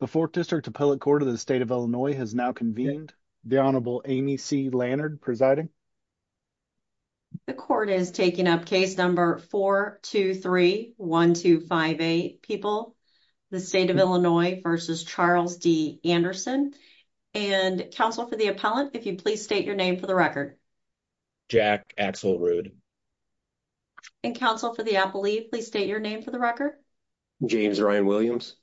The 4th District Appellate Court of the State of Illinois has now convened. The Honorable Amy C. Lannard presiding. The court is taking up case number 4-2-3-1-2-5-8, people. The State of Illinois v. Charles D. Anderson. And counsel for the appellant, if you'd please state your name for the record. Jack Axelrude. And counsel for the appellee, please state your name for the record. James Ryan Williams.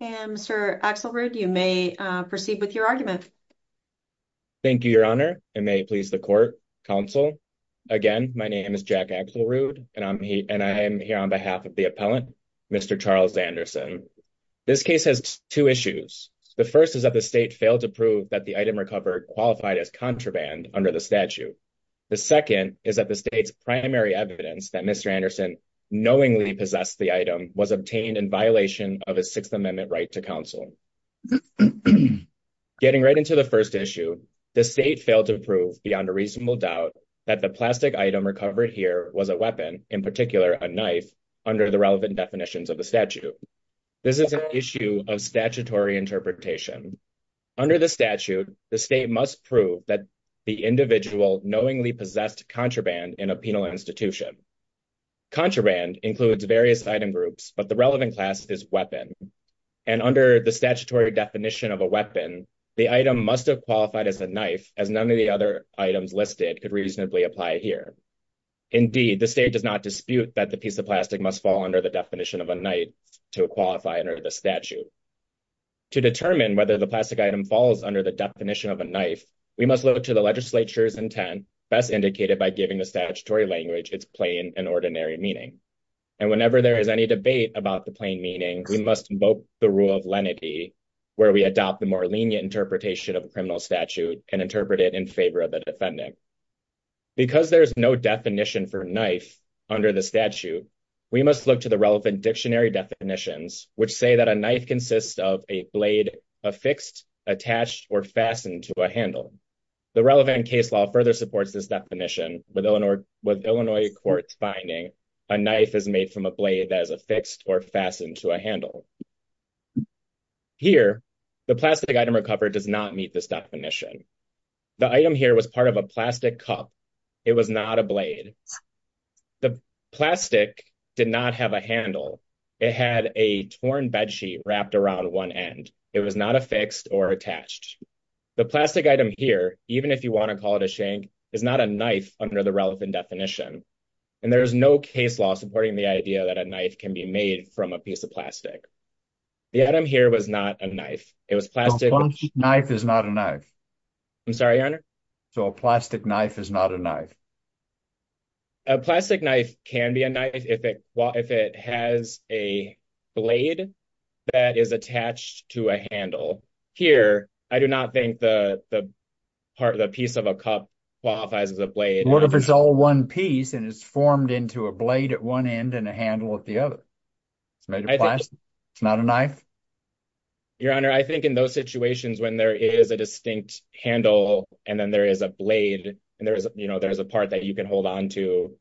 And Mr. Axelrude, you may proceed with your argument. Thank you, Your Honor, and may it please the court, counsel. Again, my name is Jack Axelrude, and I'm here on behalf of the appellant, Mr. Charles Anderson. This case has two issues. The first is that the state failed to prove that the item recovered qualified as contraband under the statute. The second is that the state's primary evidence that Mr. Anderson knowingly possessed the item was obtained in violation of a Sixth Amendment right to counsel. Getting right into the first issue, the state failed to prove beyond a reasonable doubt that the plastic item recovered here was a weapon, in particular, a knife, under the relevant definitions of the statute. This is an issue of statutory interpretation. Under the statute, the state must prove that the individual knowingly possessed contraband in a penal institution. Contraband includes various item groups, but the relevant class is weapon. And under the statutory definition of a weapon, the item must have qualified as a knife, as none of the other items listed could reasonably apply here. Indeed, the state does not dispute that the piece of plastic must fall under the definition of a knife to qualify under the statute. To determine whether the plastic item falls under the definition of a knife, we must look to the legislature's intent, best indicated by giving the statutory language its plain and ordinary meaning. And whenever there is any debate about the plain meaning, we must invoke the rule of lenity, where we adopt the more lenient interpretation of a criminal statute and interpret it in favor of the defending. Because there is no definition for knife under the statute, we must look to the relevant dictionary definitions, which say that a knife consists of a blade affixed, attached, or fastened to a handle. The relevant case law further supports this definition with Illinois courts finding a knife is made from a blade that is affixed or fastened to a handle. Here, the plastic item recovered does not meet this definition. The item here was part of a plastic cup. It was not a blade. The plastic did not have a handle. It had a torn bed sheet wrapped around one end. It was not affixed or attached. The plastic item here, even if you want to call it a shank, is not a knife under the relevant definition. And there is no case law supporting the idea that a knife can be made from a piece of plastic. The item here was not a knife. It was plastic. A plastic knife is not a knife. I'm sorry, Your Honor? So a plastic knife is not a knife. A plastic knife can be a knife if it has a blade that is attached to a handle. Here, I do not think the piece of a cup qualifies as a blade. What if it's all one piece and it's formed into a blade at one end and a handle at the other? It's not a knife? Your Honor, I think in those situations when there is a distinct handle and then there is a blade and there's a part that you can hold on to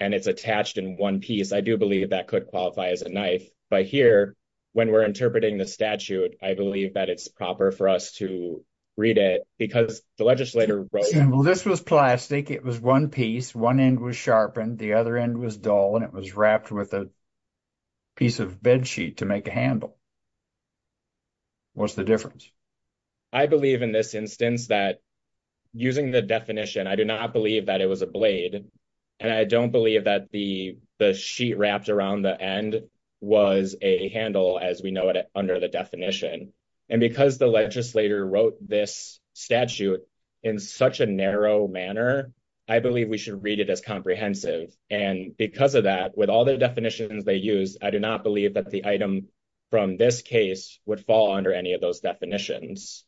and it's attached in one piece, I do believe that could qualify as a knife. But here, when we're interpreting the statute, I believe that it's proper for us to read it because the legislator wrote it. Well, this was plastic. It was one piece. One end was sharpened, the other end was dull, and it was wrapped with a piece of bedsheet to make a handle. What's the difference? I believe in this instance that using the definition, I do not believe that it was a handle as we know it under the definition. And because the legislator wrote this statute in such a narrow manner, I believe we should read it as comprehensive. And because of that, with all the definitions they used, I do not believe that the item from this case would fall under any of those definitions.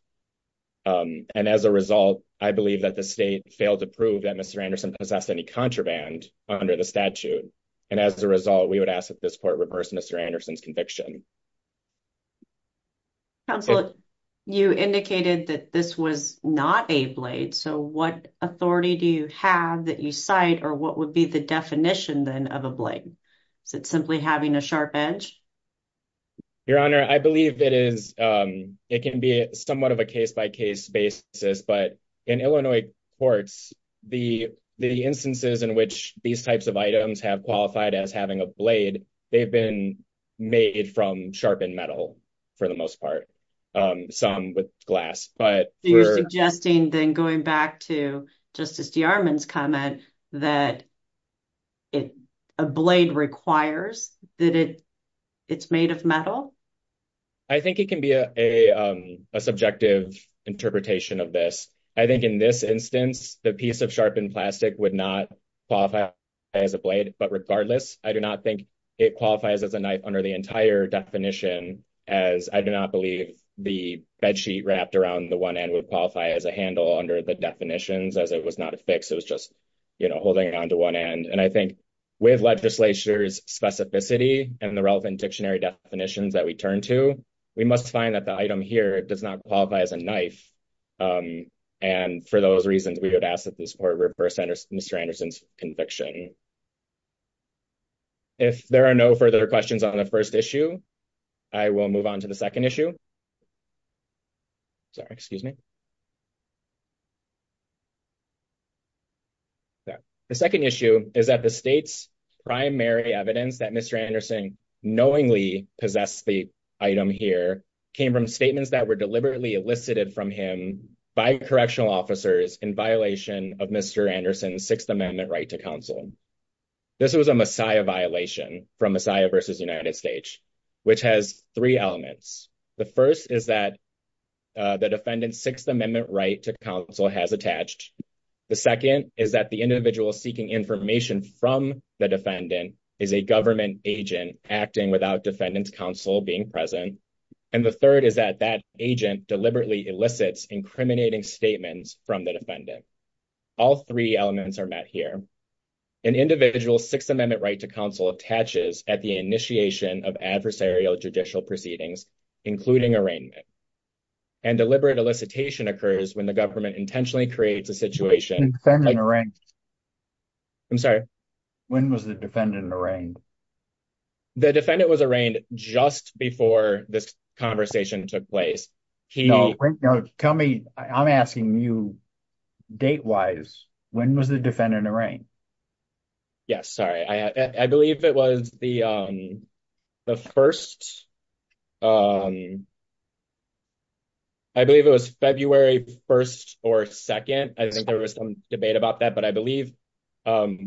And as a result, I believe that the state failed to prove that Mr. Anderson possessed any contraband under the statute. And as a result, we would ask that this court reverse Mr. Anderson's conviction. Counselor, you indicated that this was not a blade. So what authority do you have that you cite or what would be the definition then of a blade? Is it simply having a sharp edge? Your Honor, I believe it is. It can be somewhat of a case-by-case basis. But in Illinois courts, the instances in which these types of items have qualified as having a blade, they've been made from sharpened metal for the most part, some with glass. So you're suggesting then going back to Justice DeArmond's comment that a blade requires that it's made of metal? I think it can be a subjective interpretation of this. I think in this instance, the piece of sharpened plastic would not qualify as a blade. But regardless, I do not think it qualifies as a knife under the entire definition, as I do not believe the bed sheet wrapped around the one end would qualify as a handle under the definitions, as it was not a fix. It was just, you know, holding on to one end. And I think with legislature's specificity and the relevant dictionary definitions that we turn to, we must find that the item here does not qualify as a knife. And for those reasons, we would ask that this Court reverse Mr. Anderson's conviction. If there are no further questions on the first issue, I will move on to the second issue. Sorry, excuse me. Sorry. The second issue is that the state's primary evidence that Mr. Anderson knowingly possessed the item here came from statements that were deliberately elicited from him by correctional officers in violation of Mr. Anderson's Sixth Amendment right to counsel. This was a Messiah violation from Messiah versus United States, which has three elements. The first is that the defendant's Sixth Amendment right to counsel has attached. The second is that the individual seeking information from the defendant is a government agent acting without defendant's counsel being present. And the third is that that agent deliberately elicits incriminating statements from the All three elements are met here. An individual's Sixth Amendment right to counsel attaches at the initiation of adversarial judicial proceedings, including arraignment. And deliberate elicitation occurs when the government intentionally creates a situation. I'm sorry. When was the defendant arraigned? The defendant was arraigned just before this conversation took place. Tell me, I'm asking you date wise. When was the defendant arraigned? Yeah, sorry, I believe it was the the first. I believe it was February 1st or 2nd. I think there was some debate about that, but I believe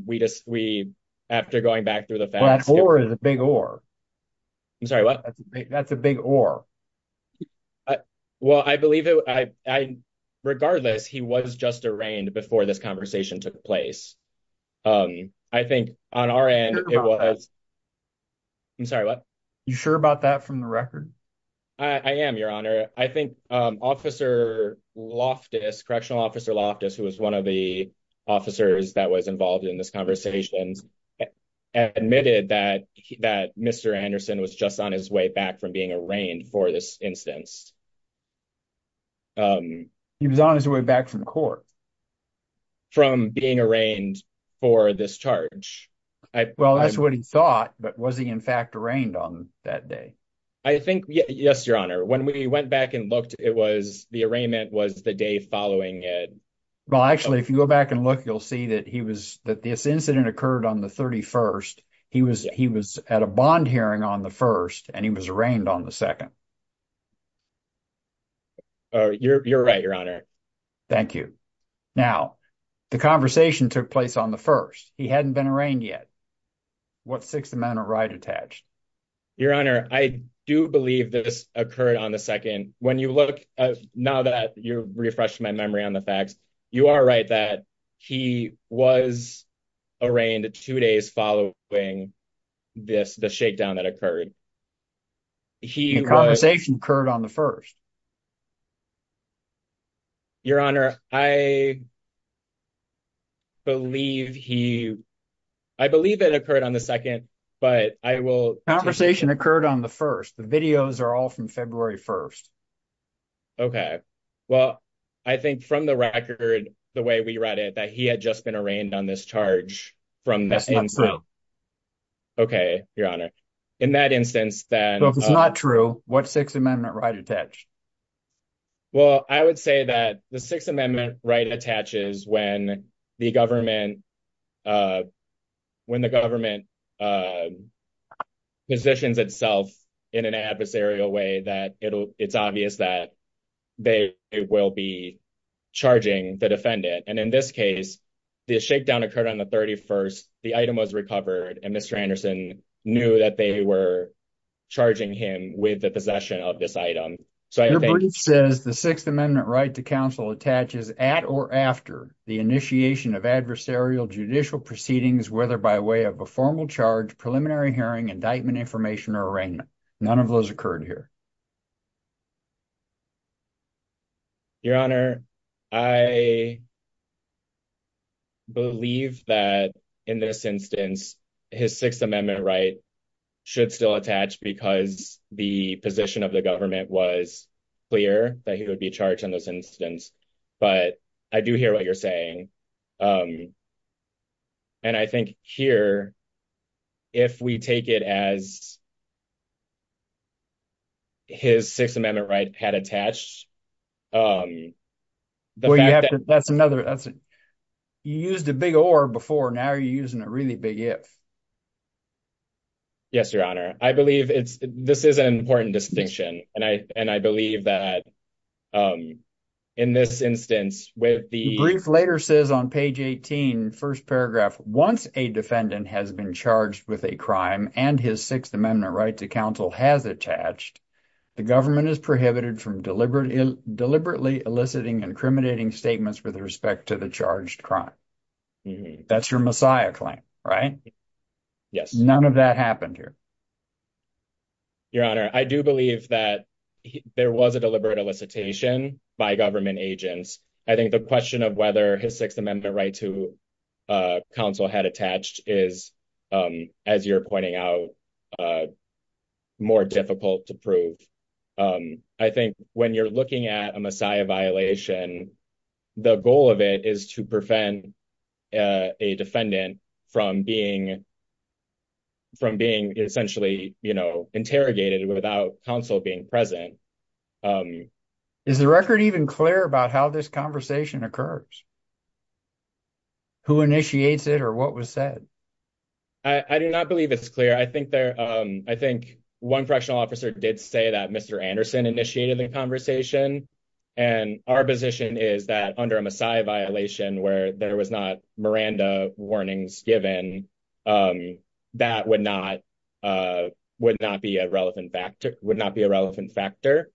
we just we after going back through the facts or is a big or. I'm sorry, what? That's a big or. Well, I believe it. Regardless, he was just arraigned before this conversation took place. I think on our end it was. I'm sorry, what you sure about that from the record? I am your honor. I think Officer Loftus Correctional Officer Loftus, who was one of the officers that was involved in this conversations, admitted that that Mr Anderson was just on his way back from being arraigned for this instance. He was on his way back from court. From being arraigned for this charge, I well, that's what he thought. But was he in fact arraigned on that day? I think yes, your honor. When we went back and looked, it was the arraignment was the day following it. Well, actually, if you go back and look, you'll see that he was that this incident occurred on the 31st. He was he was at a bond hearing on the 1st and he was arraigned on the 2nd. You're right, your honor. Thank you. Now, the conversation took place on the 1st. He hadn't been arraigned yet. What 6th Amendment right attached? Your honor, I do believe this occurred on the 2nd. When you look now that you refresh my memory on the facts, you are right that he was arraigned two days following this, the shakedown that occurred. He conversation occurred on the 1st. Your honor, I believe he I believe it occurred on the 2nd, but I will conversation occurred on the 1st. The videos are all from February 1st. OK, well, I think from the record, the way we read it, that he had just been arraigned on this charge from that. So. OK, your honor. In that instance, then it's not true. What 6th Amendment right attached? Well, I would say that the 6th Amendment right attaches when the government when the government positions itself in an adversarial way that it's obvious that they will be charging the defendant. And in this case, the shakedown occurred on the 31st. The item was recovered and Mr. Anderson knew that they were charging him with the possession of this item. So I think it says the 6th Amendment right to counsel attaches at or after the initiation of adversarial judicial proceedings, whether by way of a formal charge, preliminary hearing, indictment, information or arraignment. None of those occurred here. Your honor, I. Believe that in this instance, his 6th Amendment right should still attach because the position of the government was clear that he would be charged in this instance. But I do hear what you're saying. And I think here. If we take it as. His 6th Amendment right had attached. That's another that's used a big or before. Now you're using a really big if. Yes, your honor. I believe it's this is an important distinction and I and I believe that. In this instance, with the brief later says on page 18, first paragraph, once a defendant has been charged with a crime and his 6th Amendment right to counsel has attached. The government is prohibited from deliberately, deliberately eliciting incriminating statements with respect to the charged crime. That's your Messiah claim, right? Yes, none of that happened here. Your honor, I do believe that there was a deliberate elicitation by government agents. I think the question of whether his 6th Amendment right to counsel had attached is, as you're pointing out. More difficult to prove. I think when you're looking at a Messiah violation. The goal of it is to prevent a defendant from being. From being essentially, you know, interrogated without counsel being present. Is the record even clear about how this conversation occurs? Who initiates it, or what was said? I do not believe it's clear. I think there I think one correctional officer did say that Mr Anderson initiated the conversation and our position is that under a Messiah violation where there was not Miranda warnings given. Um, that would not would not be a relevant factor would not be a relevant factor.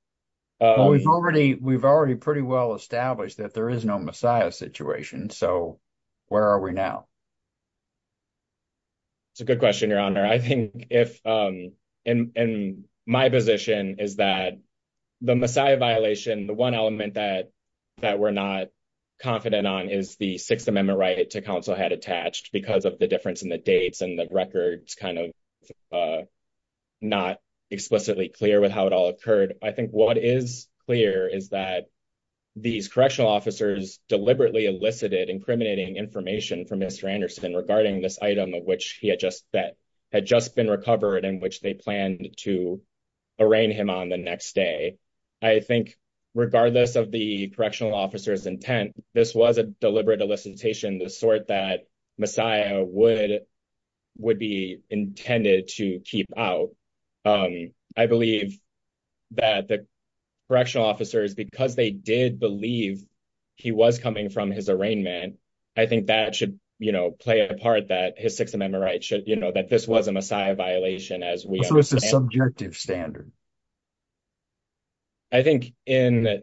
We've already pretty well established that there is no Messiah situation. So where are we now? It's a good question. Your honor, I think if in my position is that. The Messiah violation, the 1 element that that we're not confident on is the 6th Amendment right to counsel had attached because of the difference in the dates and the records kind of. Not explicitly clear with how it all occurred. I think what is clear is that. These correctional officers deliberately elicited incriminating information from Mr. Anderson regarding this item of which he had just that had just been recovered in which they planned to arraign him on the next day. I think regardless of the correctional officers intent. This was a deliberate elicitation, the sort that Messiah would would be intended to keep out. I believe. That the correctional officers, because they did believe he was coming from his arraignment. I think that should, you know, play a part that his 6th Amendment right should you know that this was a Messiah violation as we. So it's a subjective standard. I think in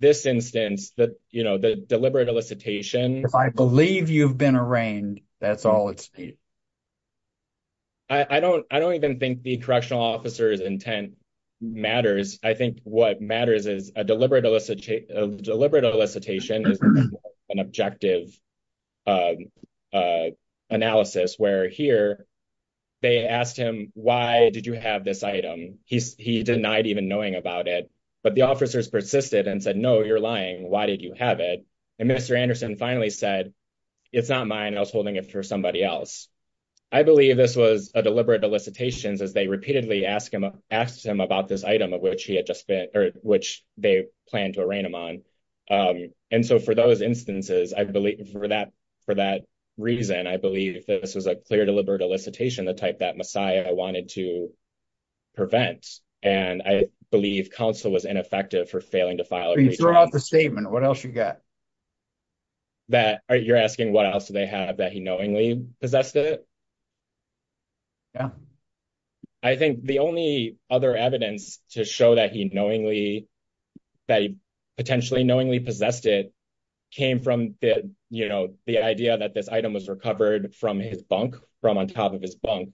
this instance that, you know, the deliberate elicitation, if I believe you've been arraigned, that's all it's. I don't I don't even think the correctional officers intent matters. I think what matters is a deliberate elicit a deliberate elicitation is an objective. Analysis where here. They asked him why did you have this item? He denied even knowing about it, but the officers persisted and said, no, you're lying. Why did you have it? And Mr. Anderson finally said it's not mine. I was holding it for somebody else. I believe this was a deliberate elicitations as they repeatedly ask him, asked him about this item of which he had just been or which they plan to arraign him on. And so for those instances, I believe for that. For that reason, I believe that this was a clear deliberate elicitation, the type that Messiah wanted to prevent. And I believe counsel was ineffective for failing to file the statement. What else you got? That you're asking what else do they have that he knowingly possessed it? Yeah, I think the only other evidence to show that he knowingly that he potentially knowingly possessed it came from the idea that this item was recovered from his bunk from on top of his bunk.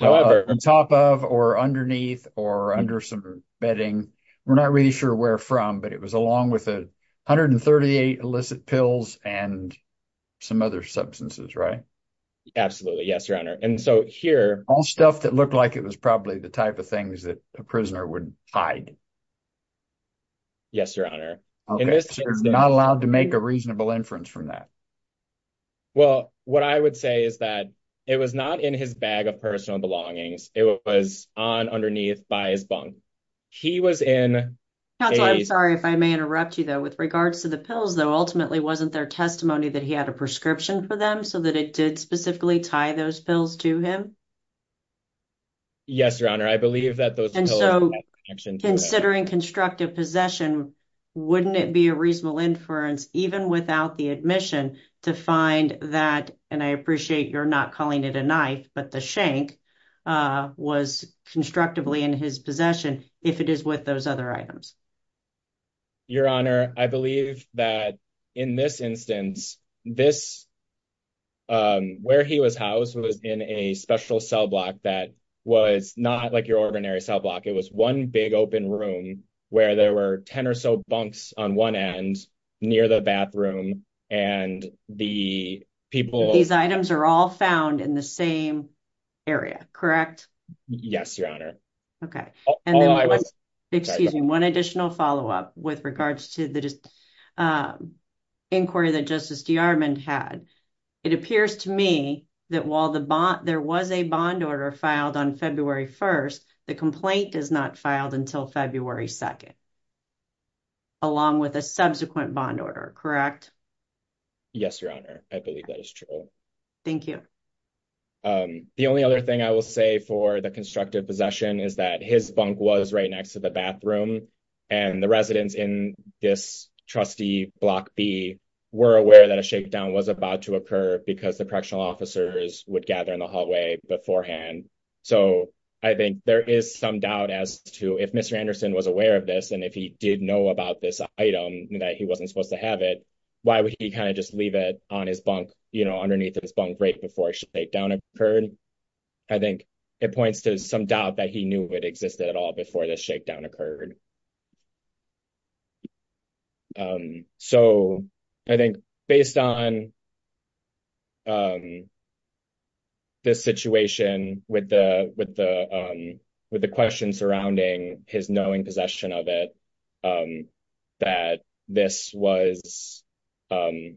However, on top of or underneath or under some bedding, we're not really sure where from, but it was along with 138 illicit pills and some other substances. Right? Absolutely. Yes, your honor. And so here all stuff that looked like it was probably the type of things that a prisoner would hide. Yes, your honor. Not allowed to make a reasonable inference from that. Well, what I would say is that it was not in his bag of personal belongings. It was on underneath by his bunk. He was in. I'm sorry if I may interrupt you, though, with regards to the pills, though, ultimately wasn't their testimony that he had a prescription for them so that it did specifically tie those pills to him. Yes, your honor. I believe that those and so considering constructive possession, wouldn't it be a reasonable inference, even without the admission to find that? And I appreciate you're not calling it a knife, but the shank was constructively in his possession if it is with those other items. Your honor, I believe that in this instance, this. Where he was housed was in a special cell block that was not like your ordinary cell block. It was one big open room where there were 10 or so bunks on one end near the bathroom and the. People, these items are all found in the same area, correct? Yes, your honor. OK, and then I was excusing one additional follow up with regards to the. Inquiry that Justice DeArmond had. It appears to me that while the there was a bond order filed on February 1st, the complaint is not filed until February 2nd. Along with a subsequent bond order, correct? Yes, your honor. I believe that is true. Thank you. The only other thing I will say for the constructive possession is that his bunk was right next to the bathroom and the residents in this trustee block be were aware that a shakedown was about to occur because the correctional officers would gather in the hallway beforehand. So I think there is some doubt as to if Mr. Anderson was aware of this, and if he did know about this item that he wasn't supposed to have it, why would he kind of just leave it on his bunk, you know, underneath his bunk right before a shakedown occurred? I think it points to some doubt that he knew it existed at all before the shakedown occurred. So I think based on this situation with the with the with the question surrounding his knowing possession of it, that this was an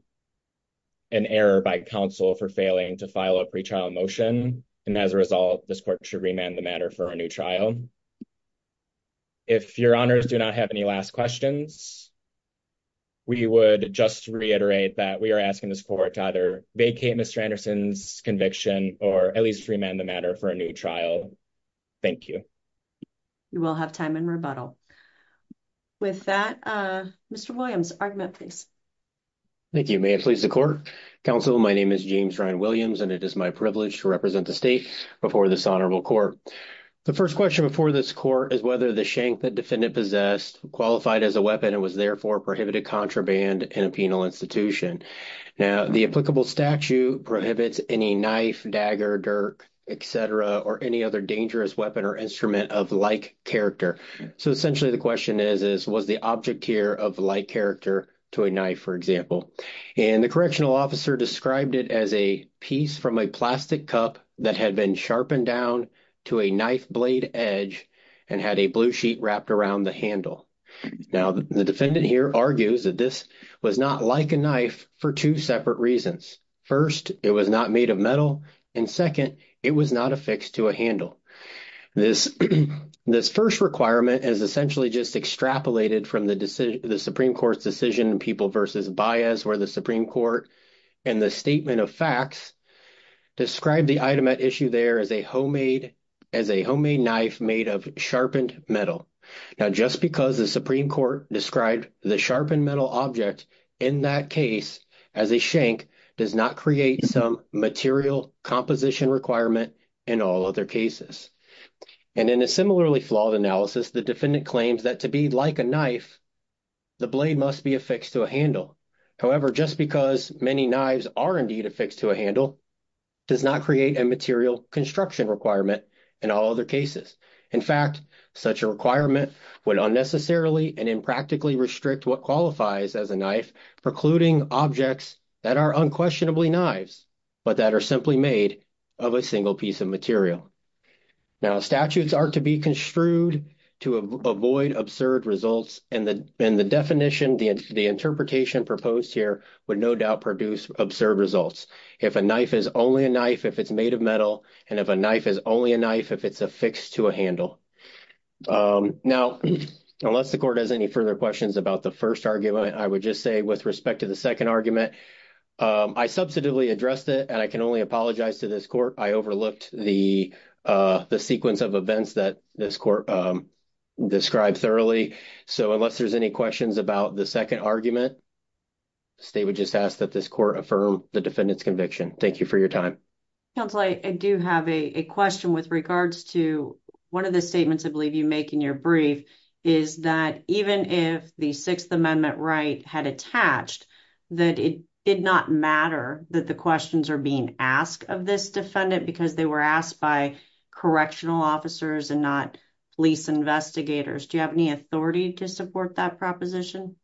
error by counsel for failing to file a pre-trial motion, and as a result, this court should remand the matter for a new trial. If your honors do not have any last questions, we would just reiterate that we are asking this court to either vacate Mr. Anderson's conviction or at least remand the matter for a new trial. Thank you. You will have time in rebuttal. With that, Mr. Williams, argument, please. Thank you. May it please the court. Counsel, my name is James Ryan Williams, and it is my privilege to represent the state before this honorable court. The first question before this court is whether the shank the defendant possessed qualified as a weapon and was therefore prohibited contraband in a penal institution. Now, the applicable statute prohibits any knife, dagger, dirk, et cetera, or any other dangerous weapon or instrument of like character. So essentially, the question is, is was the object here of like character to a knife, for example, and the correctional officer described it as a piece from a plastic cup that had been sharpened down to a knife blade edge and had a blue sheet wrapped around the handle. Now, the defendant here argues that this was not like a knife for two separate reasons. First, it was not made of metal, and second, it was not affixed to a handle. This first requirement is essentially just extrapolated from the Supreme Court's decision in People v. Baez where the Supreme Court in the statement of facts described the item at issue there as a homemade knife made of sharpened metal. Now, just because the Supreme Court described the sharpened metal object in that case as a shank does not create some material composition requirement in all other cases. And in a similarly flawed analysis, the defendant claims that to be like a knife, the blade must be affixed to a handle. However, just because many knives are indeed affixed to a handle does not create a material construction requirement in all other cases. In fact, such a requirement would unnecessarily and impractically restrict what qualifies as a knife precluding objects that are unquestionably knives but that are simply made of a single piece of material. Now, statutes are to be construed to avoid absurd results, and the definition, the interpretation proposed here would no doubt produce absurd results. If a knife is only a knife if it's made of metal, and if a knife is only a knife if it's affixed to a handle. Now, unless the court has any further questions about the first argument, I would just with respect to the second argument, I substantively addressed it, and I can only apologize to this court. I overlooked the sequence of events that this court described thoroughly. So, unless there's any questions about the second argument, the state would just ask that this court affirm the defendant's conviction. Thank you for your time. Counsel, I do have a question with regards to one of the statements I believe you make in your brief is that even if the Sixth that it did not matter that the questions are being asked of this defendant because they were asked by correctional officers and not police investigators. Do you have any authority to support that proposition?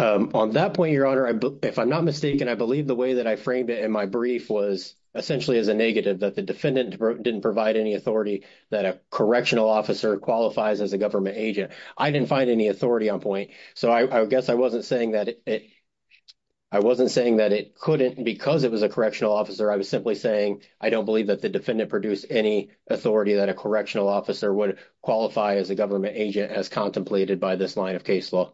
On that point, Your Honor, if I'm not mistaken, I believe the way that I framed it in my brief was essentially as a negative that the defendant didn't provide any authority that a correctional officer qualifies as a government agent. I didn't find any authority on point. So, I guess I wasn't saying that it I wasn't saying that it couldn't because it was a correctional officer. I was simply saying I don't believe that the defendant produced any authority that a correctional officer would qualify as a government agent as contemplated by this line of case law.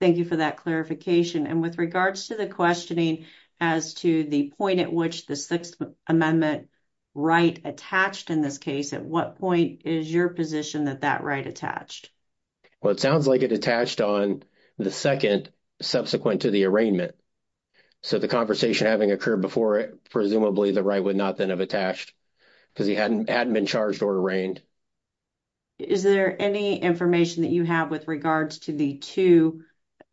Thank you for that clarification. And with regards to the questioning as to the point at which the Sixth Amendment right attached in this case, at what point is your position that that right attached? Well, it sounds like it attached on the second subsequent to the arraignment. So, the conversation having occurred before presumably the right would not then have attached because he hadn't been charged or arraigned. Is there any information that you have with regards to the two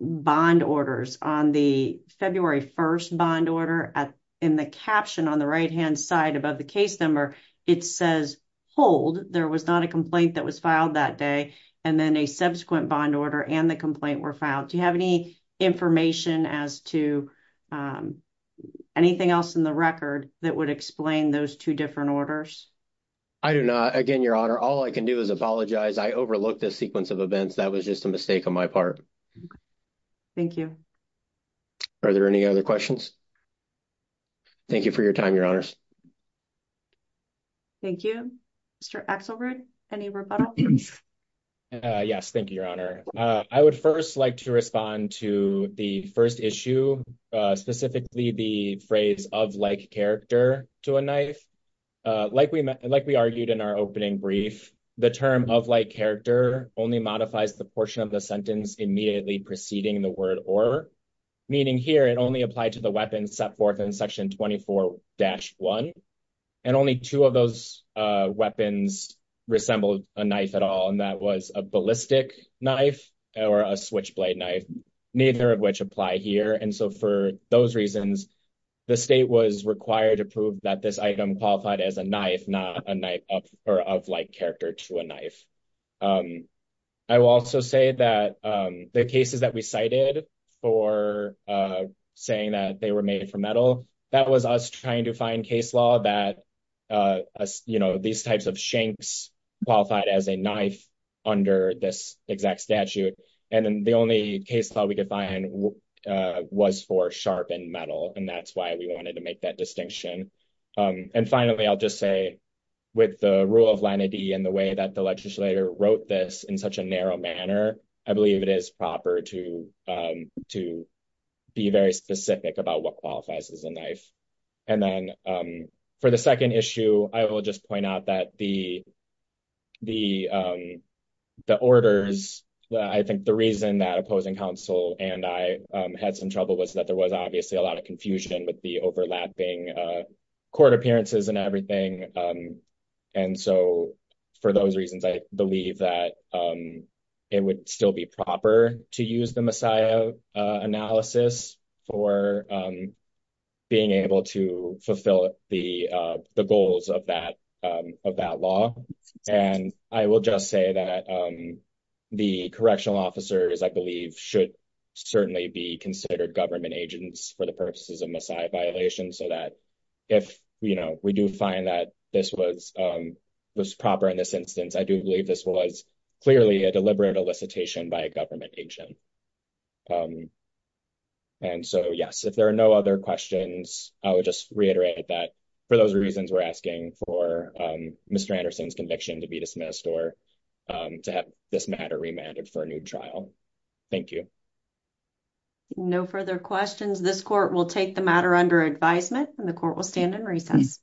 bond orders on the February 1st bond order in the caption on the right-hand side above the case number? It says hold. There was not a complaint that was filed that day and then a subsequent bond order and the complaint were filed. Do you have any information as to anything else in the record that would explain those two different orders? I do not. Again, Your Honor, all I can do is apologize. I overlooked this sequence of events. That was just a mistake on my part. Thank you. Are there any other questions? Thank you for your time, Your Honors. Thank you. Mr. Axelrod, any rebuttal? Yes, thank you, Your Honor. I would first like to respond to the first issue, specifically the phrase of like character to a knife. Like we argued in our opening brief, the term of like character only modifies the portion of the sentence immediately preceding the word or, meaning here, it only applied to the weapon set forth in section 24-1 and only two of those weapons resembled a knife at all. That was a ballistic knife or a switchblade knife, neither of which apply here. For those reasons, the state was required to prove that this item qualified as a knife, not a knife of like character to a knife. I will also say that the cases that we cited for saying that they were made from metal, that was us trying to find case law that, you know, these types of shanks qualified as a knife under this exact statute. And the only case law we could find was for sharpened metal. And that's why we wanted to make that distinction. And finally, I'll just say, with the rule of line of D and the way that the proper to be very specific about what qualifies as a knife. And then for the second issue, I will just point out that the orders, I think the reason that opposing counsel and I had some trouble was that there was obviously a lot of confusion with the overlapping court appearances and everything. And so for those reasons, I believe that it would still be proper to use the Messiah analysis for being able to fulfill the goals of that law. And I will just say that the correctional officers, I believe, should certainly be considered government agents for purposes of Messiah violations so that if we do find that this was proper in this instance, I do believe this was clearly a deliberate elicitation by a government agent. And so yes, if there are no other questions, I would just reiterate that for those reasons, we're asking for Mr. Anderson's conviction to be dismissed or to have this matter remanded for a new trial. Thank you. No further questions. This court will take the matter under advisement and the court will stand in recess.